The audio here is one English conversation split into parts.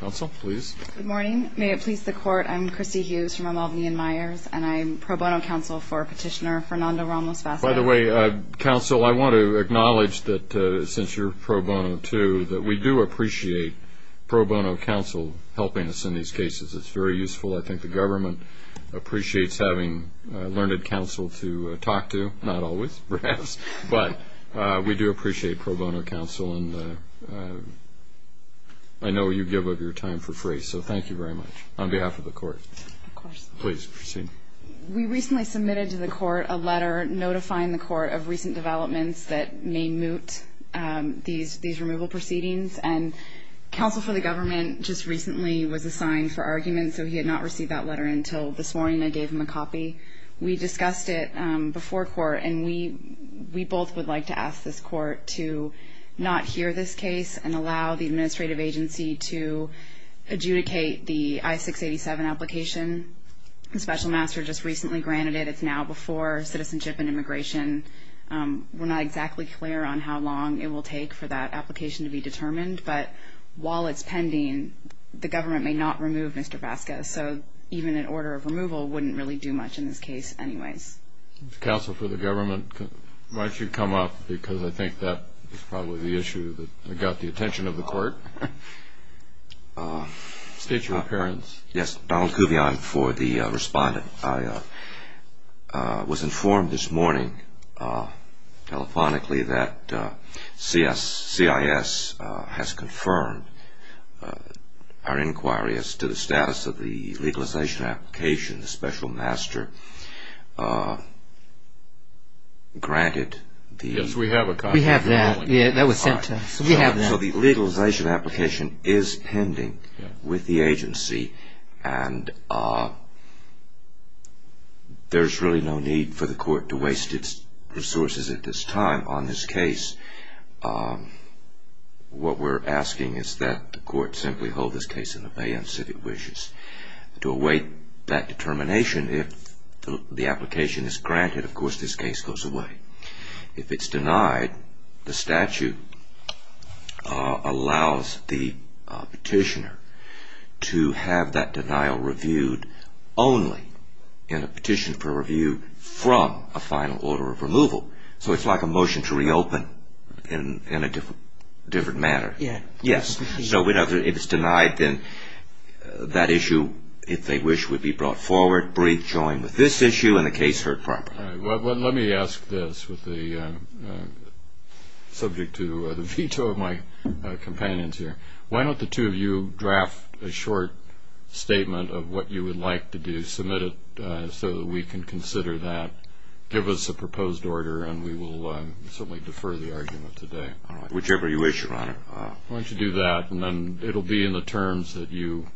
Good morning. May it please the Court, I'm Christy Hughes from Albany and Myers, and I'm pro bono counsel for petitioner Fernando Ramos-Vazquez. By the way, counsel, I want to acknowledge that since you're pro bono, too, that we do appreciate pro bono counsel helping us in these cases. It's very useful. I think the government appreciates having learned counsel to talk to, not always, perhaps, but we do appreciate pro bono counsel. And I know you give up your time for free, so thank you very much. On behalf of the Court. Of course. Please proceed. We recently submitted to the Court a letter notifying the Court of recent developments that may moot these removal proceedings. And counsel for the government just recently was assigned for argument, so he had not received that letter until this morning. I gave him a copy. We discussed it before court, and we both would like to ask this Court to not hear this case and allow the administrative agency to adjudicate the I-687 application. The special master just recently granted it. It's now before citizenship and immigration. We're not exactly clear on how long it will take for that application to be determined, but while it's pending, the government may not remove Mr. Vasquez. So even an order of removal wouldn't really do much in this case anyways. Counsel for the government, why don't you come up? Because I think that is probably the issue that got the attention of the Court. State your appearance. Yes. Donald Kuvion for the respondent. I was informed this morning telephonically that CIS has confirmed our inquiry as to the status of the legalization application. The special master granted the- Yes, we have a copy. We have that. Yeah, that was sent to us. So we have that. The legalization application is pending with the agency, and there's really no need for the Court to waste its resources at this time on this case. What we're asking is that the Court simply hold this case in abeyance if it wishes. To await that determination, if the application is granted, of course this case goes away. If it's denied, the statute allows the petitioner to have that denial reviewed only in a petition for review from a final order of removal. So it's like a motion to reopen in a different manner. Yeah. Yes. So if it's denied, then that issue, if they wish, would be brought forward, rejoined with this issue, and the case heard properly. All right. Well, let me ask this, subject to the veto of my companions here. Why don't the two of you draft a short statement of what you would like to do, submit it so that we can consider that, give us a proposed order, and we will certainly defer the argument today. All right. Whichever you wish, Your Honor. Why don't you do that, and then it'll be in the terms that you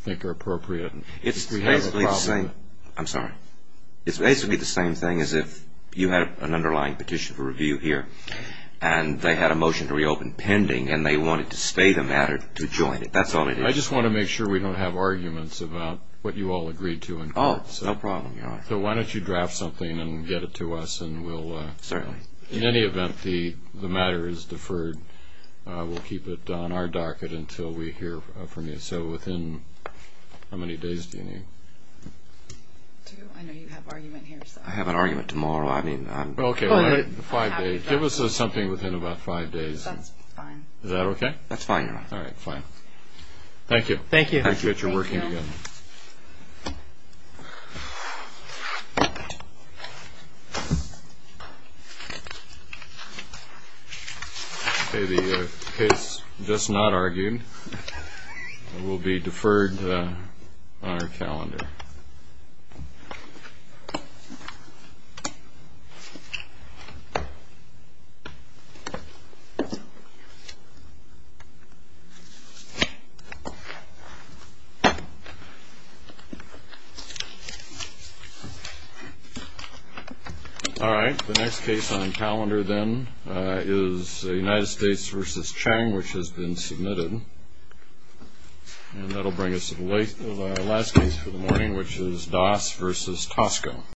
think are appropriate. It's basically the same. I'm sorry. It's basically the same thing as if you had an underlying petition for review here, and they had a motion to reopen pending, and they wanted to stay the matter to join it. That's all it is. I just want to make sure we don't have arguments about what you all agreed to in court. Oh, no problem, Your Honor. So why don't you draft something and get it to us, and we'll – Certainly. In any event, the matter is deferred. We'll keep it on our docket until we hear from you. So within how many days do you need? Two. I know you have argument here, so. I have an argument tomorrow. I mean, I'm – Okay. Five days. Give us something within about five days. That's fine. Is that okay? That's fine, Your Honor. All right. Fine. Thank you. Thank you. Thank you. Appreciate your working together. Okay. The case just not argued will be deferred on our calendar. All right. The next case on calendar, then, is United States versus Chiang, which has been submitted. And that will bring us to the last case for the morning, which is Das versus Tosco.